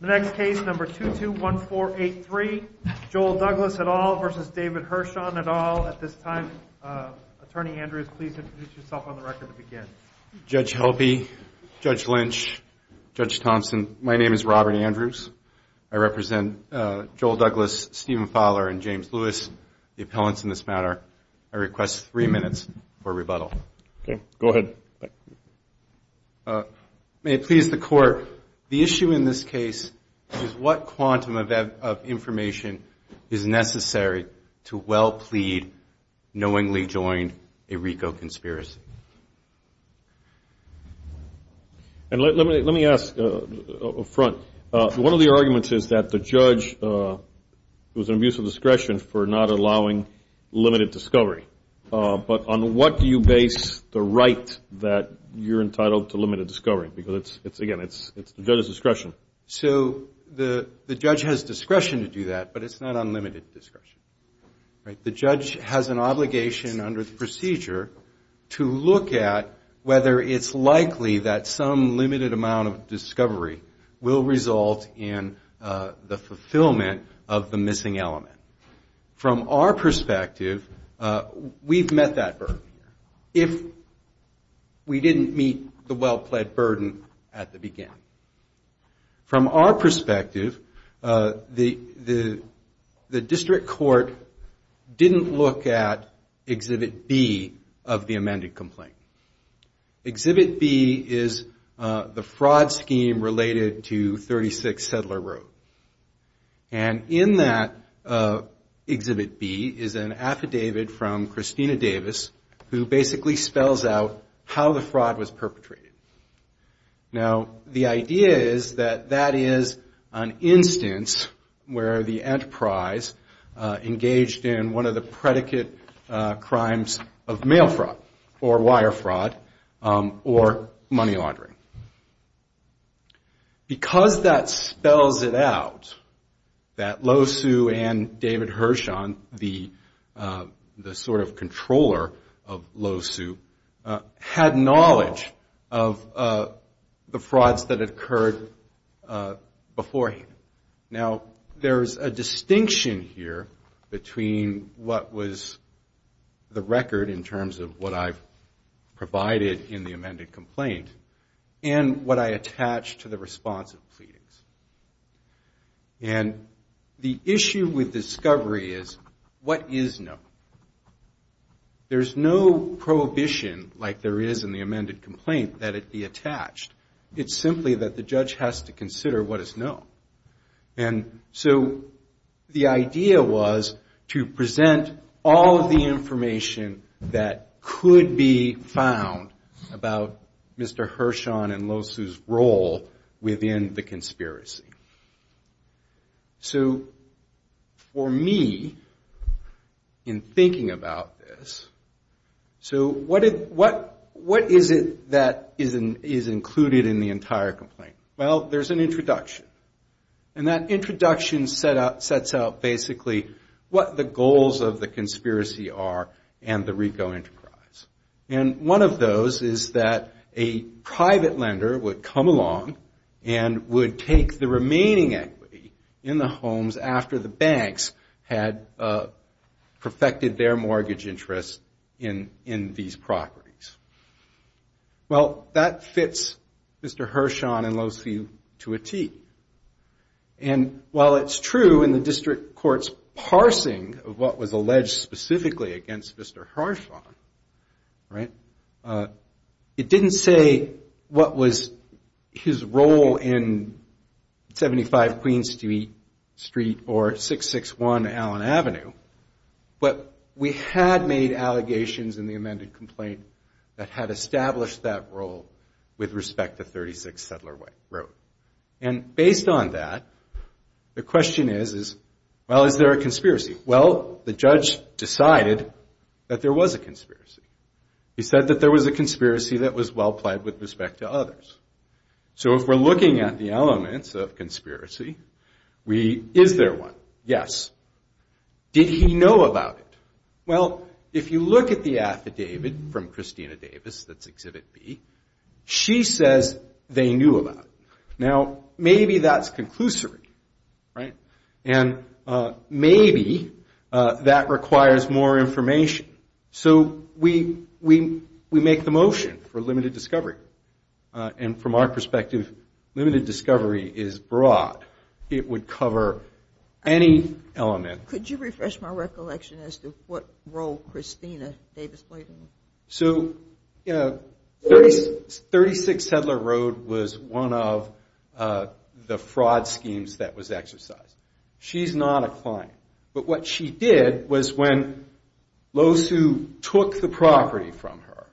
The next case, number 221483, Joel Douglas et al. versus David Hirshon et al. At this time, Attorney Andrews, please introduce yourself on the record to begin. Judge Helpe, Judge Lynch, Judge Thompson, my name is Robert Andrews. I represent Joel Douglas, Stephen Fowler, and James Lewis, the appellants in this matter. I request three minutes for rebuttal. Okay, go ahead. May it please the Court, the issue in this case is what quantum of information is necessary to well-plead, knowingly join a RICO conspiracy? Let me ask up front. One of the arguments is that the judge was an abuse of discretion for not allowing limited discovery. But on what do you base the right that you're entitled to limited discovery? Because, again, it's the judge's discretion. So the judge has discretion to do that, but it's not unlimited discretion. The judge has an obligation under the procedure to look at whether it's likely that some limited amount of discovery will result in the fulfillment of the missing element. From our perspective, we've met that burden. If we didn't meet the well-plead burden at the beginning. From our perspective, the district court didn't look at Exhibit B of the amended complaint. Exhibit B is the fraud scheme related to 36 Settler Road. And in that Exhibit B is an affidavit from Christina Davis who basically spells out how the fraud was perpetrated. Now, the idea is that that is an instance where the enterprise engaged in one of the predicate crimes of mail fraud or wire fraud or money laundering. Because that spells it out, that Lohsu and David Hershon, the sort of controller of Lohsu, had knowledge of the frauds that had occurred beforehand. Now, there's a distinction here between what was the record in terms of what I've provided in the amended complaint and what I attached to the responsive pleadings. And the issue with discovery is what is known. There's no prohibition like there is in the amended complaint that it be attached. It's simply that the judge has to consider what is known. And so the idea was to present all of the information that could be found about Mr. Hershon and Lohsu's role within the conspiracy. So for me, in thinking about this, so what is it that is included in the entire complaint? Well, there's an introduction. And that introduction sets out basically what the goals of the conspiracy are and the RICO enterprise. And one of those is that a private lender would come along and would take the remaining equity in the homes after the banks had perfected their mortgage interest in these properties. Well, that fits Mr. Hershon and Lohsu to a T. And while it's true in the district court's parsing of what was alleged specifically against Mr. Hershon, it didn't say what was his role in 75 Queen Street or 661 Allen Avenue. But we had made allegations in the amended complaint that had established that role with respect to 36 Settler Road. And based on that, the question is, well, is there a conspiracy? Well, the judge decided that there was a conspiracy. He said that there was a conspiracy that was well-plied with respect to others. So if we're looking at the elements of conspiracy, is there one? Yes. Did he know about it? Well, if you look at the affidavit from Christina Davis, that's Exhibit B, she says they knew about it. Now, maybe that's conclusory, right? And maybe that requires more information. So we make the motion for limited discovery. And from our perspective, limited discovery is broad. It would cover any element. Could you refresh my recollection as to what role Christina Davis played in it? So, you know, 36 Settler Road was one of the fraud schemes that was exercised. She's not a client. But what she did was when those who took the property from her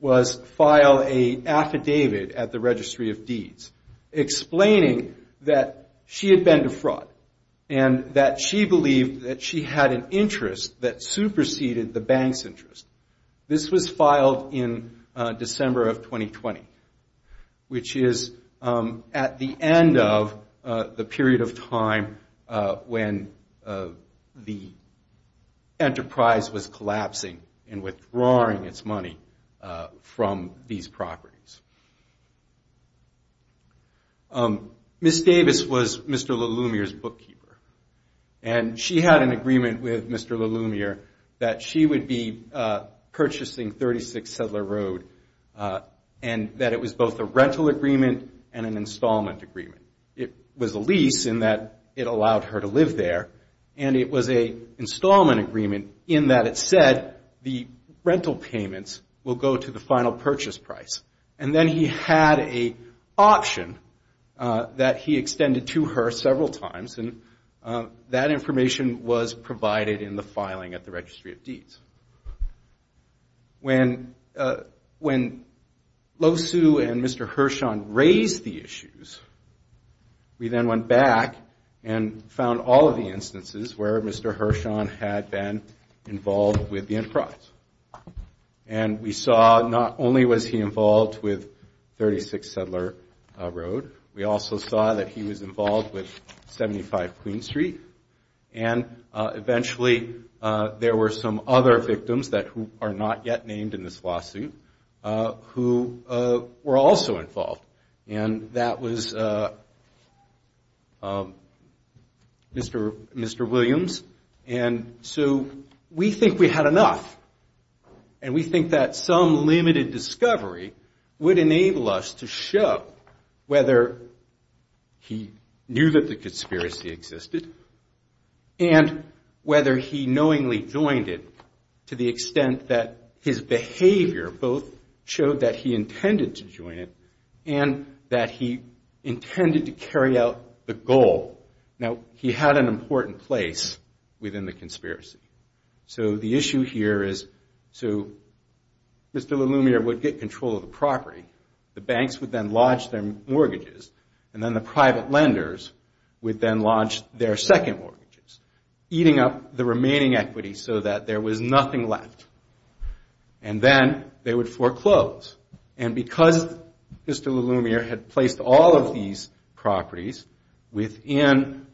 was file an affidavit at the Registry of Deeds explaining that she had been to fraud and that she believed that she had an interest that superseded the bank's interest. This was filed in December of 2020, which is at the end of the period of time when the enterprise was collapsing and withdrawing its money from these properties. Ms. Davis was Mr. LeLumiere's bookkeeper. And she had an agreement with Mr. LeLumiere that she would be purchasing 36 Settler Road and that it was both a rental agreement and an installment agreement. It was a lease in that it allowed her to live there. And it was an installment agreement in that it said the rental payments will go to the final purchase price. And then he had an option that he extended to her several times. And that information was provided in the filing at the Registry of Deeds. When Lo Su and Mr. Hershon raised the issues, we then went back and found all of the instances where Mr. Hershon had been involved with the enterprise. And we saw not only was he involved with 36 Settler Road, we also saw that he was involved with 75 Queen Street. And eventually there were some other victims that are not yet named in this lawsuit who were also involved. And that was Mr. Williams. And so we think we had enough. And we think that some limited discovery would enable us to show whether he knew that the conspiracy existed and whether he knowingly joined it to the extent that his behavior both showed that he intended to join it and that he intended to carry out the goal. Now, he had an important place within the conspiracy. So the issue here is, so Mr. LeLumiere would get control of the property. The banks would then lodge their mortgages. And then the private lenders would then lodge their second mortgages, eating up the remaining equity so that there was nothing left. And then they would foreclose. And because Mr. LeLumiere had placed all of these properties within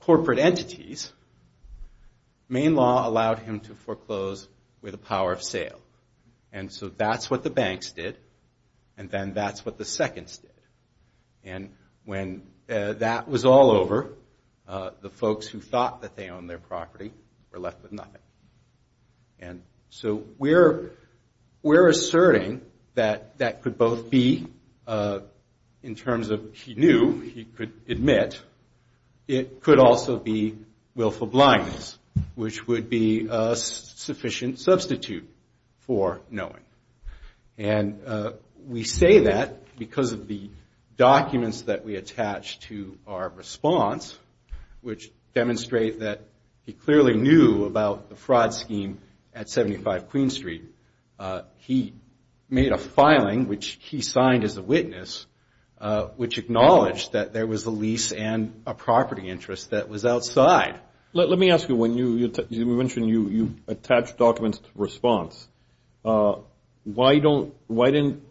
corporate entities, Maine law allowed him to foreclose with a power of sale. And so that's what the banks did, and then that's what the seconds did. And when that was all over, the folks who thought that they owned their property were left with nothing. And so we're asserting that that could both be in terms of he knew, he could admit, it could also be willful blindness, which would be a sufficient substitute for knowing. And we say that because of the documents that we attach to our response, which demonstrate that he clearly knew about the fraud scheme at 75 Queen Street. He made a filing, which he signed as a witness, which acknowledged that there was a lease and a property interest that was outside. Let me ask you, when you mentioned you attached documents to response, why didn't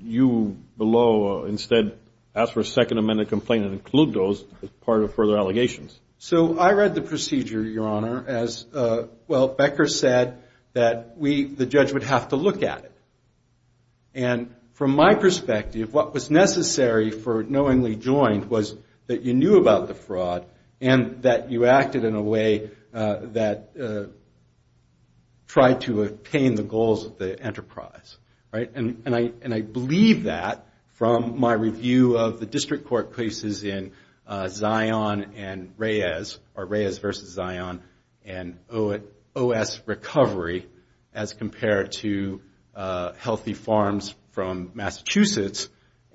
you below instead ask for a second amended complaint and include those as part of further allegations? So I read the procedure, Your Honor, as, well, Becker said that the judge would have to look at it. And from my perspective, what was necessary for knowingly joined was that you knew about the fraud and that you acted in a way that tried to obtain the goals of the enterprise. And I believe that from my review of the district court cases in Zion and Reyes, or Reyes versus Zion, and OS recovery as compared to Healthy Farms from Massachusetts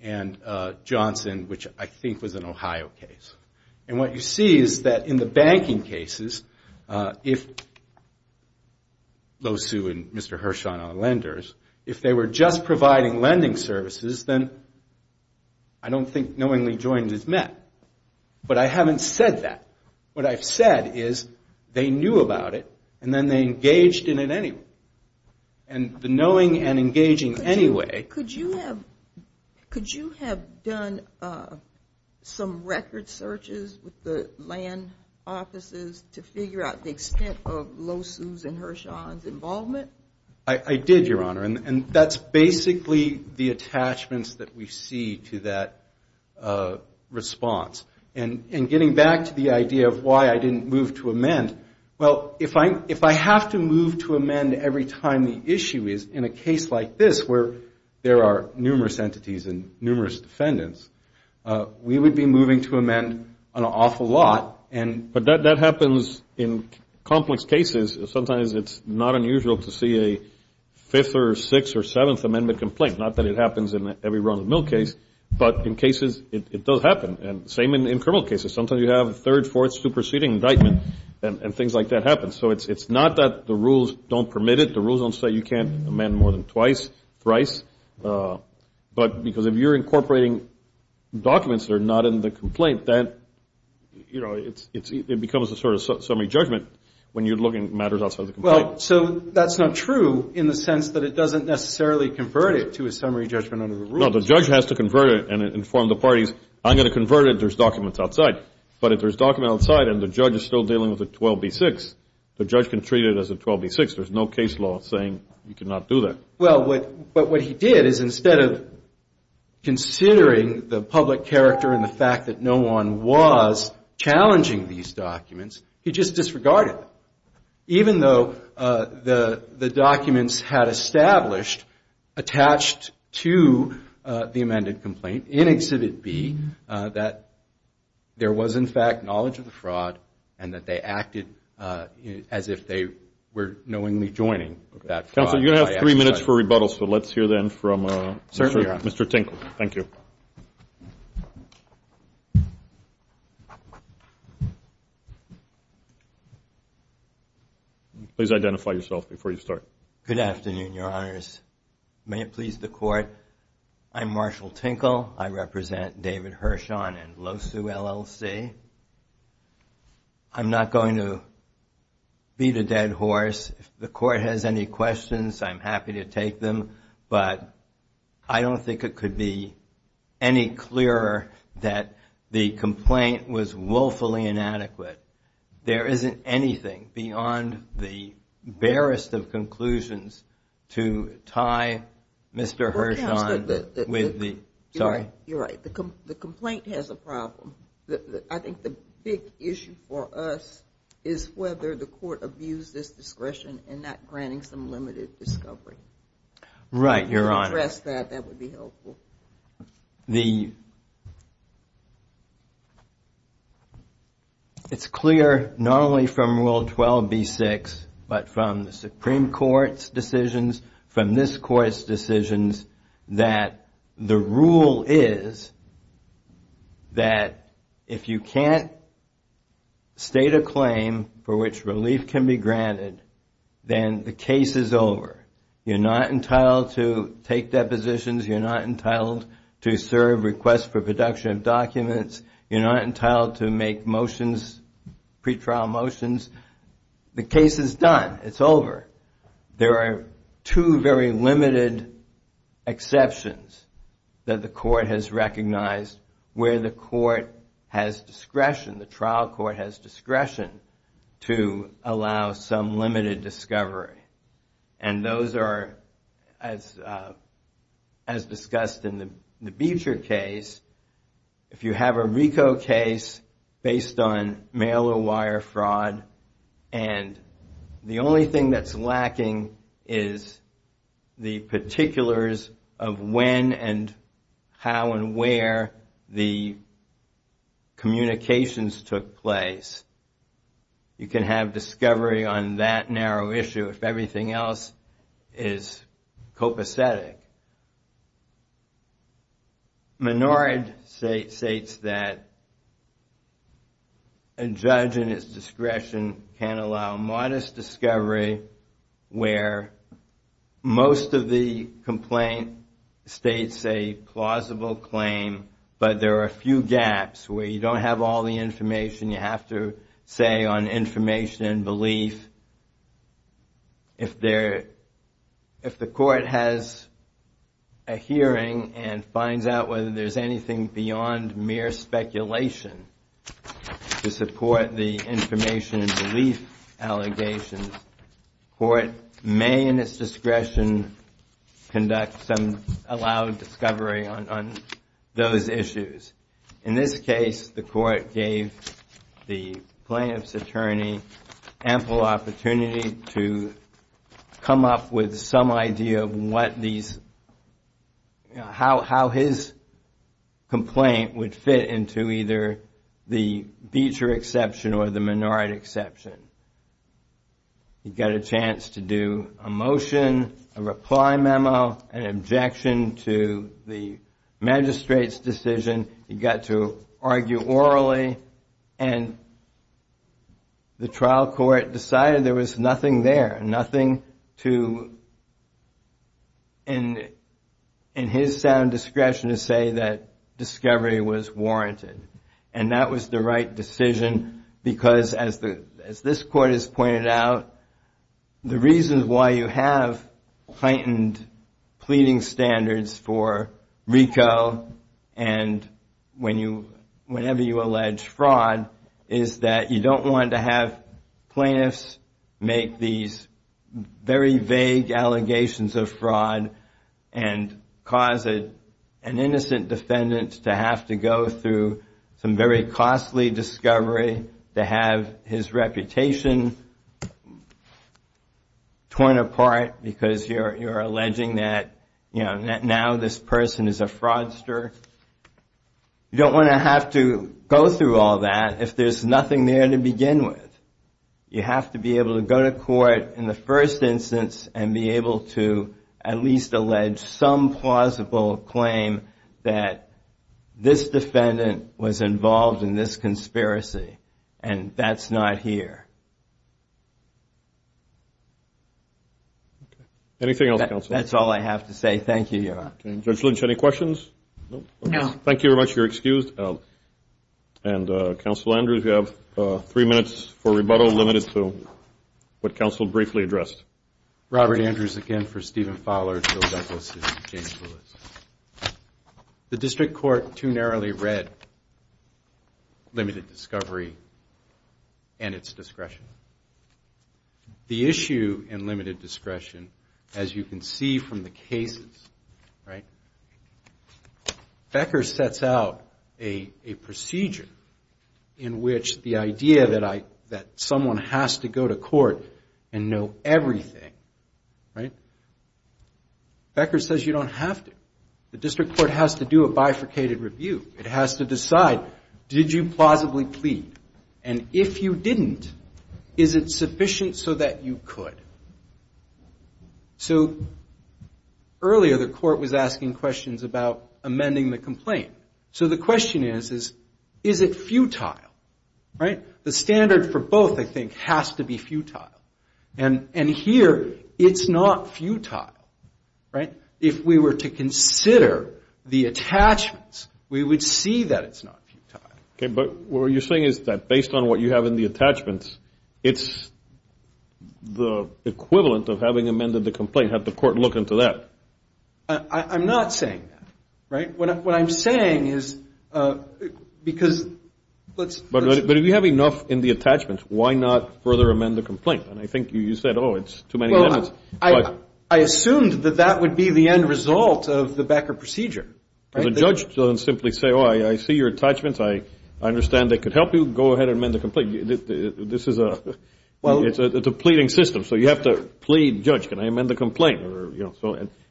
and Johnson, which I think was an Ohio case. And what you see is that in the banking cases, if Lo Su and Mr. Hirshon are lenders, if they were just providing lending services, then I don't think knowingly joined is met. But I haven't said that. What I've said is they knew about it, and then they engaged in it anyway. And the knowing and engaging anyway. Could you have done some record searches with the land offices to figure out the extent of Lo Su's and Hirshon's involvement? I did, Your Honor. And that's basically the attachments that we see to that response. And getting back to the idea of why I didn't move to amend, well, if I have to move to amend every time the issue is in a case like this where there are numerous entities and numerous defendants, we would be moving to amend an awful lot. But that happens in complex cases. Sometimes it's not unusual to see a fifth or sixth or seventh amendment complaint. Not that it happens in every run of the mill case, but in cases it does happen. And same in criminal cases. Sometimes you have a third, fourth, superseding indictment, and things like that happen. So it's not that the rules don't permit it. The rules don't say you can't amend more than twice, thrice. But because if you're incorporating documents that are not in the complaint, then it becomes a sort of summary judgment when you're looking at matters outside the complaint. Well, so that's not true in the sense that it doesn't necessarily convert it to a summary judgment under the rules. No, the judge has to convert it and inform the parties, I'm going to convert it. Because there's documents outside. But if there's documents outside and the judge is still dealing with a 12B6, the judge can treat it as a 12B6. There's no case law saying you cannot do that. Well, but what he did is instead of considering the public character and the fact that no one was challenging these documents, he just disregarded them. Even though the documents had established, attached to the amended complaint in Exhibit B, that there was, in fact, knowledge of the fraud and that they acted as if they were knowingly joining that fraud. Counsel, you have three minutes for rebuttal, so let's hear then from Mr. Tinkle. Thank you. Please identify yourself before you start. Good afternoon, Your Honors. May it please the Court. I'm Marshall Tinkle. I represent David Hirshon and Losu LLC. I'm not going to beat a dead horse. If the Court has any questions, I'm happy to take them. But I don't think it could be any clearer that the complaint was woefully inadequate. There isn't anything beyond the barest of conclusions to tie Mr. Hirshon with the... You're right. The complaint has a problem. I think the big issue for us is whether the Court abused its discretion in not granting some limited discovery. Right, Your Honor. If you could address that, that would be helpful. The... It's clear, not only from Rule 12b-6, but from the Supreme Court's decisions, from this Court's decisions, that the rule is that if you can't state a claim for which relief can be granted, then the case is over. You're not entitled to take depositions. You're not entitled to serve requests for production of documents. You're not entitled to make motions, pretrial motions. The case is done. It's over. There are two very limited exceptions that the Court has recognized where the Court has discretion, the trial court has discretion, to allow some limited discovery. And those are, as discussed in the Beecher case, if you have a RICO case based on mail-or-wire fraud, and the only thing that's lacking is the particulars of when and how and where the communications took place, you can have discovery on that narrow issue if everything else is copacetic. Menard states that a judge in his discretion can allow modest discovery where most of the complaint states a plausible claim, but there are a few gaps where you don't have all the information you have to say on information and belief. If the Court has a hearing and finds out whether there's anything beyond mere speculation to support the information and belief allegations, the Court may, in its discretion, conduct some allowed discovery on those issues. In this case, the Court gave the plaintiff's attorney ample opportunity to come up with some idea of what these, how his complaint would fit into either the Beecher exception or the Menard exception. He got a chance to do a motion, a reply memo, an objection to the magistrate's decision. He got to argue orally, and the trial court decided there was nothing there, nothing to, in his sound discretion, to say that discovery was warranted. And that was the right decision because, as this Court has pointed out, the reasons why you have heightened pleading standards for RICO and whenever you allege fraud is that you don't want to have plaintiffs make these very vague allegations of fraud and cause an innocent defendant to have to go through some very costly discovery to have his reputation torn apart because you're alleging that now this person is a fraudster. You don't want to have to go through all that if there's nothing there to begin with. You have to be able to go to court in the first instance and be able to at least allege some plausible claim that this defendant was involved in this conspiracy, and that's not here. Anything else, counsel? That's all I have to say. Thank you, Your Honor. Judge Lynch, any questions? No. Thank you very much. You're excused. And, Counsel Andrews, you have three minutes for rebuttal, limited to what counsel briefly addressed. Robert Andrews again for Stephen Fowler, Joe Douglas, and James Lewis. The district court too narrowly read limited discovery and its discretion. The issue in limited discretion, as you can see from the cases, right? Becker sets out a procedure in which the idea that someone has to go to court and know everything, right? Becker says you don't have to. The district court has to do a bifurcated review. It has to decide, did you plausibly plead? And if you didn't, is it sufficient so that you could? So earlier the court was asking questions about amending the complaint. So the question is, is it futile, right? The standard for both, I think, has to be futile. And here it's not futile, right? If we were to consider the attachments, we would see that it's not futile. Okay, but what you're saying is that based on what you have in the attachments, it's the equivalent of having amended the complaint. Have the court look into that. I'm not saying that, right? What I'm saying is because let's – But if you have enough in the attachments, why not further amend the complaint? And I think you said, oh, it's too many amendments. Well, I assumed that that would be the end result of the Becker procedure. Because a judge doesn't simply say, oh, I see your attachments. I understand they could help you. Go ahead and amend the complaint. This is a depleting system, so you have to plead, judge, can I amend the complaint?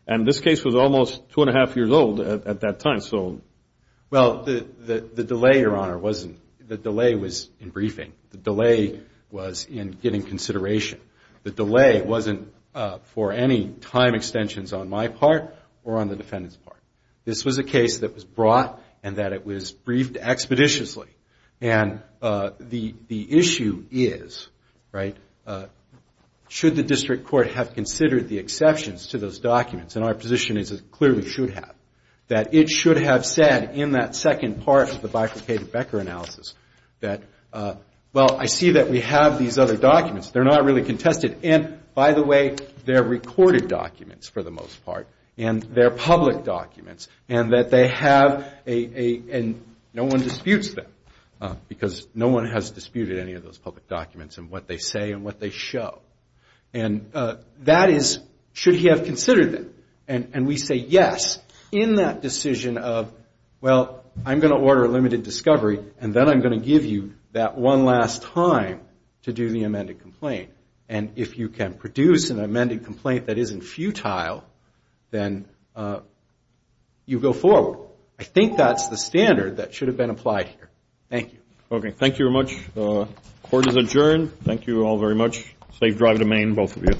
And this case was almost two and a half years old at that time. Well, the delay, Your Honor, wasn't – the delay was in briefing. The delay was in getting consideration. The delay wasn't for any time extensions on my part or on the defendant's part. This was a case that was brought and that it was briefed expeditiously. And the issue is, right, should the district court have considered the exceptions to those documents? And our position is it clearly should have. That it should have said in that second part of the bifurcated Becker analysis that, well, I see that we have these other documents. They're not really contested. And, by the way, they're recorded documents for the most part. And they're public documents. And that they have a – and no one disputes them. Because no one has disputed any of those public documents and what they say and what they show. And that is, should he have considered them? And we say yes in that decision of, well, I'm going to order a limited discovery, and then I'm going to give you that one last time to do the amended complaint. And if you can produce an amended complaint that isn't futile, then you go forward. I think that's the standard that should have been applied here. Thank you. Okay, thank you very much. Court is adjourned. Thank you all very much. Safe drive to Maine, both of you.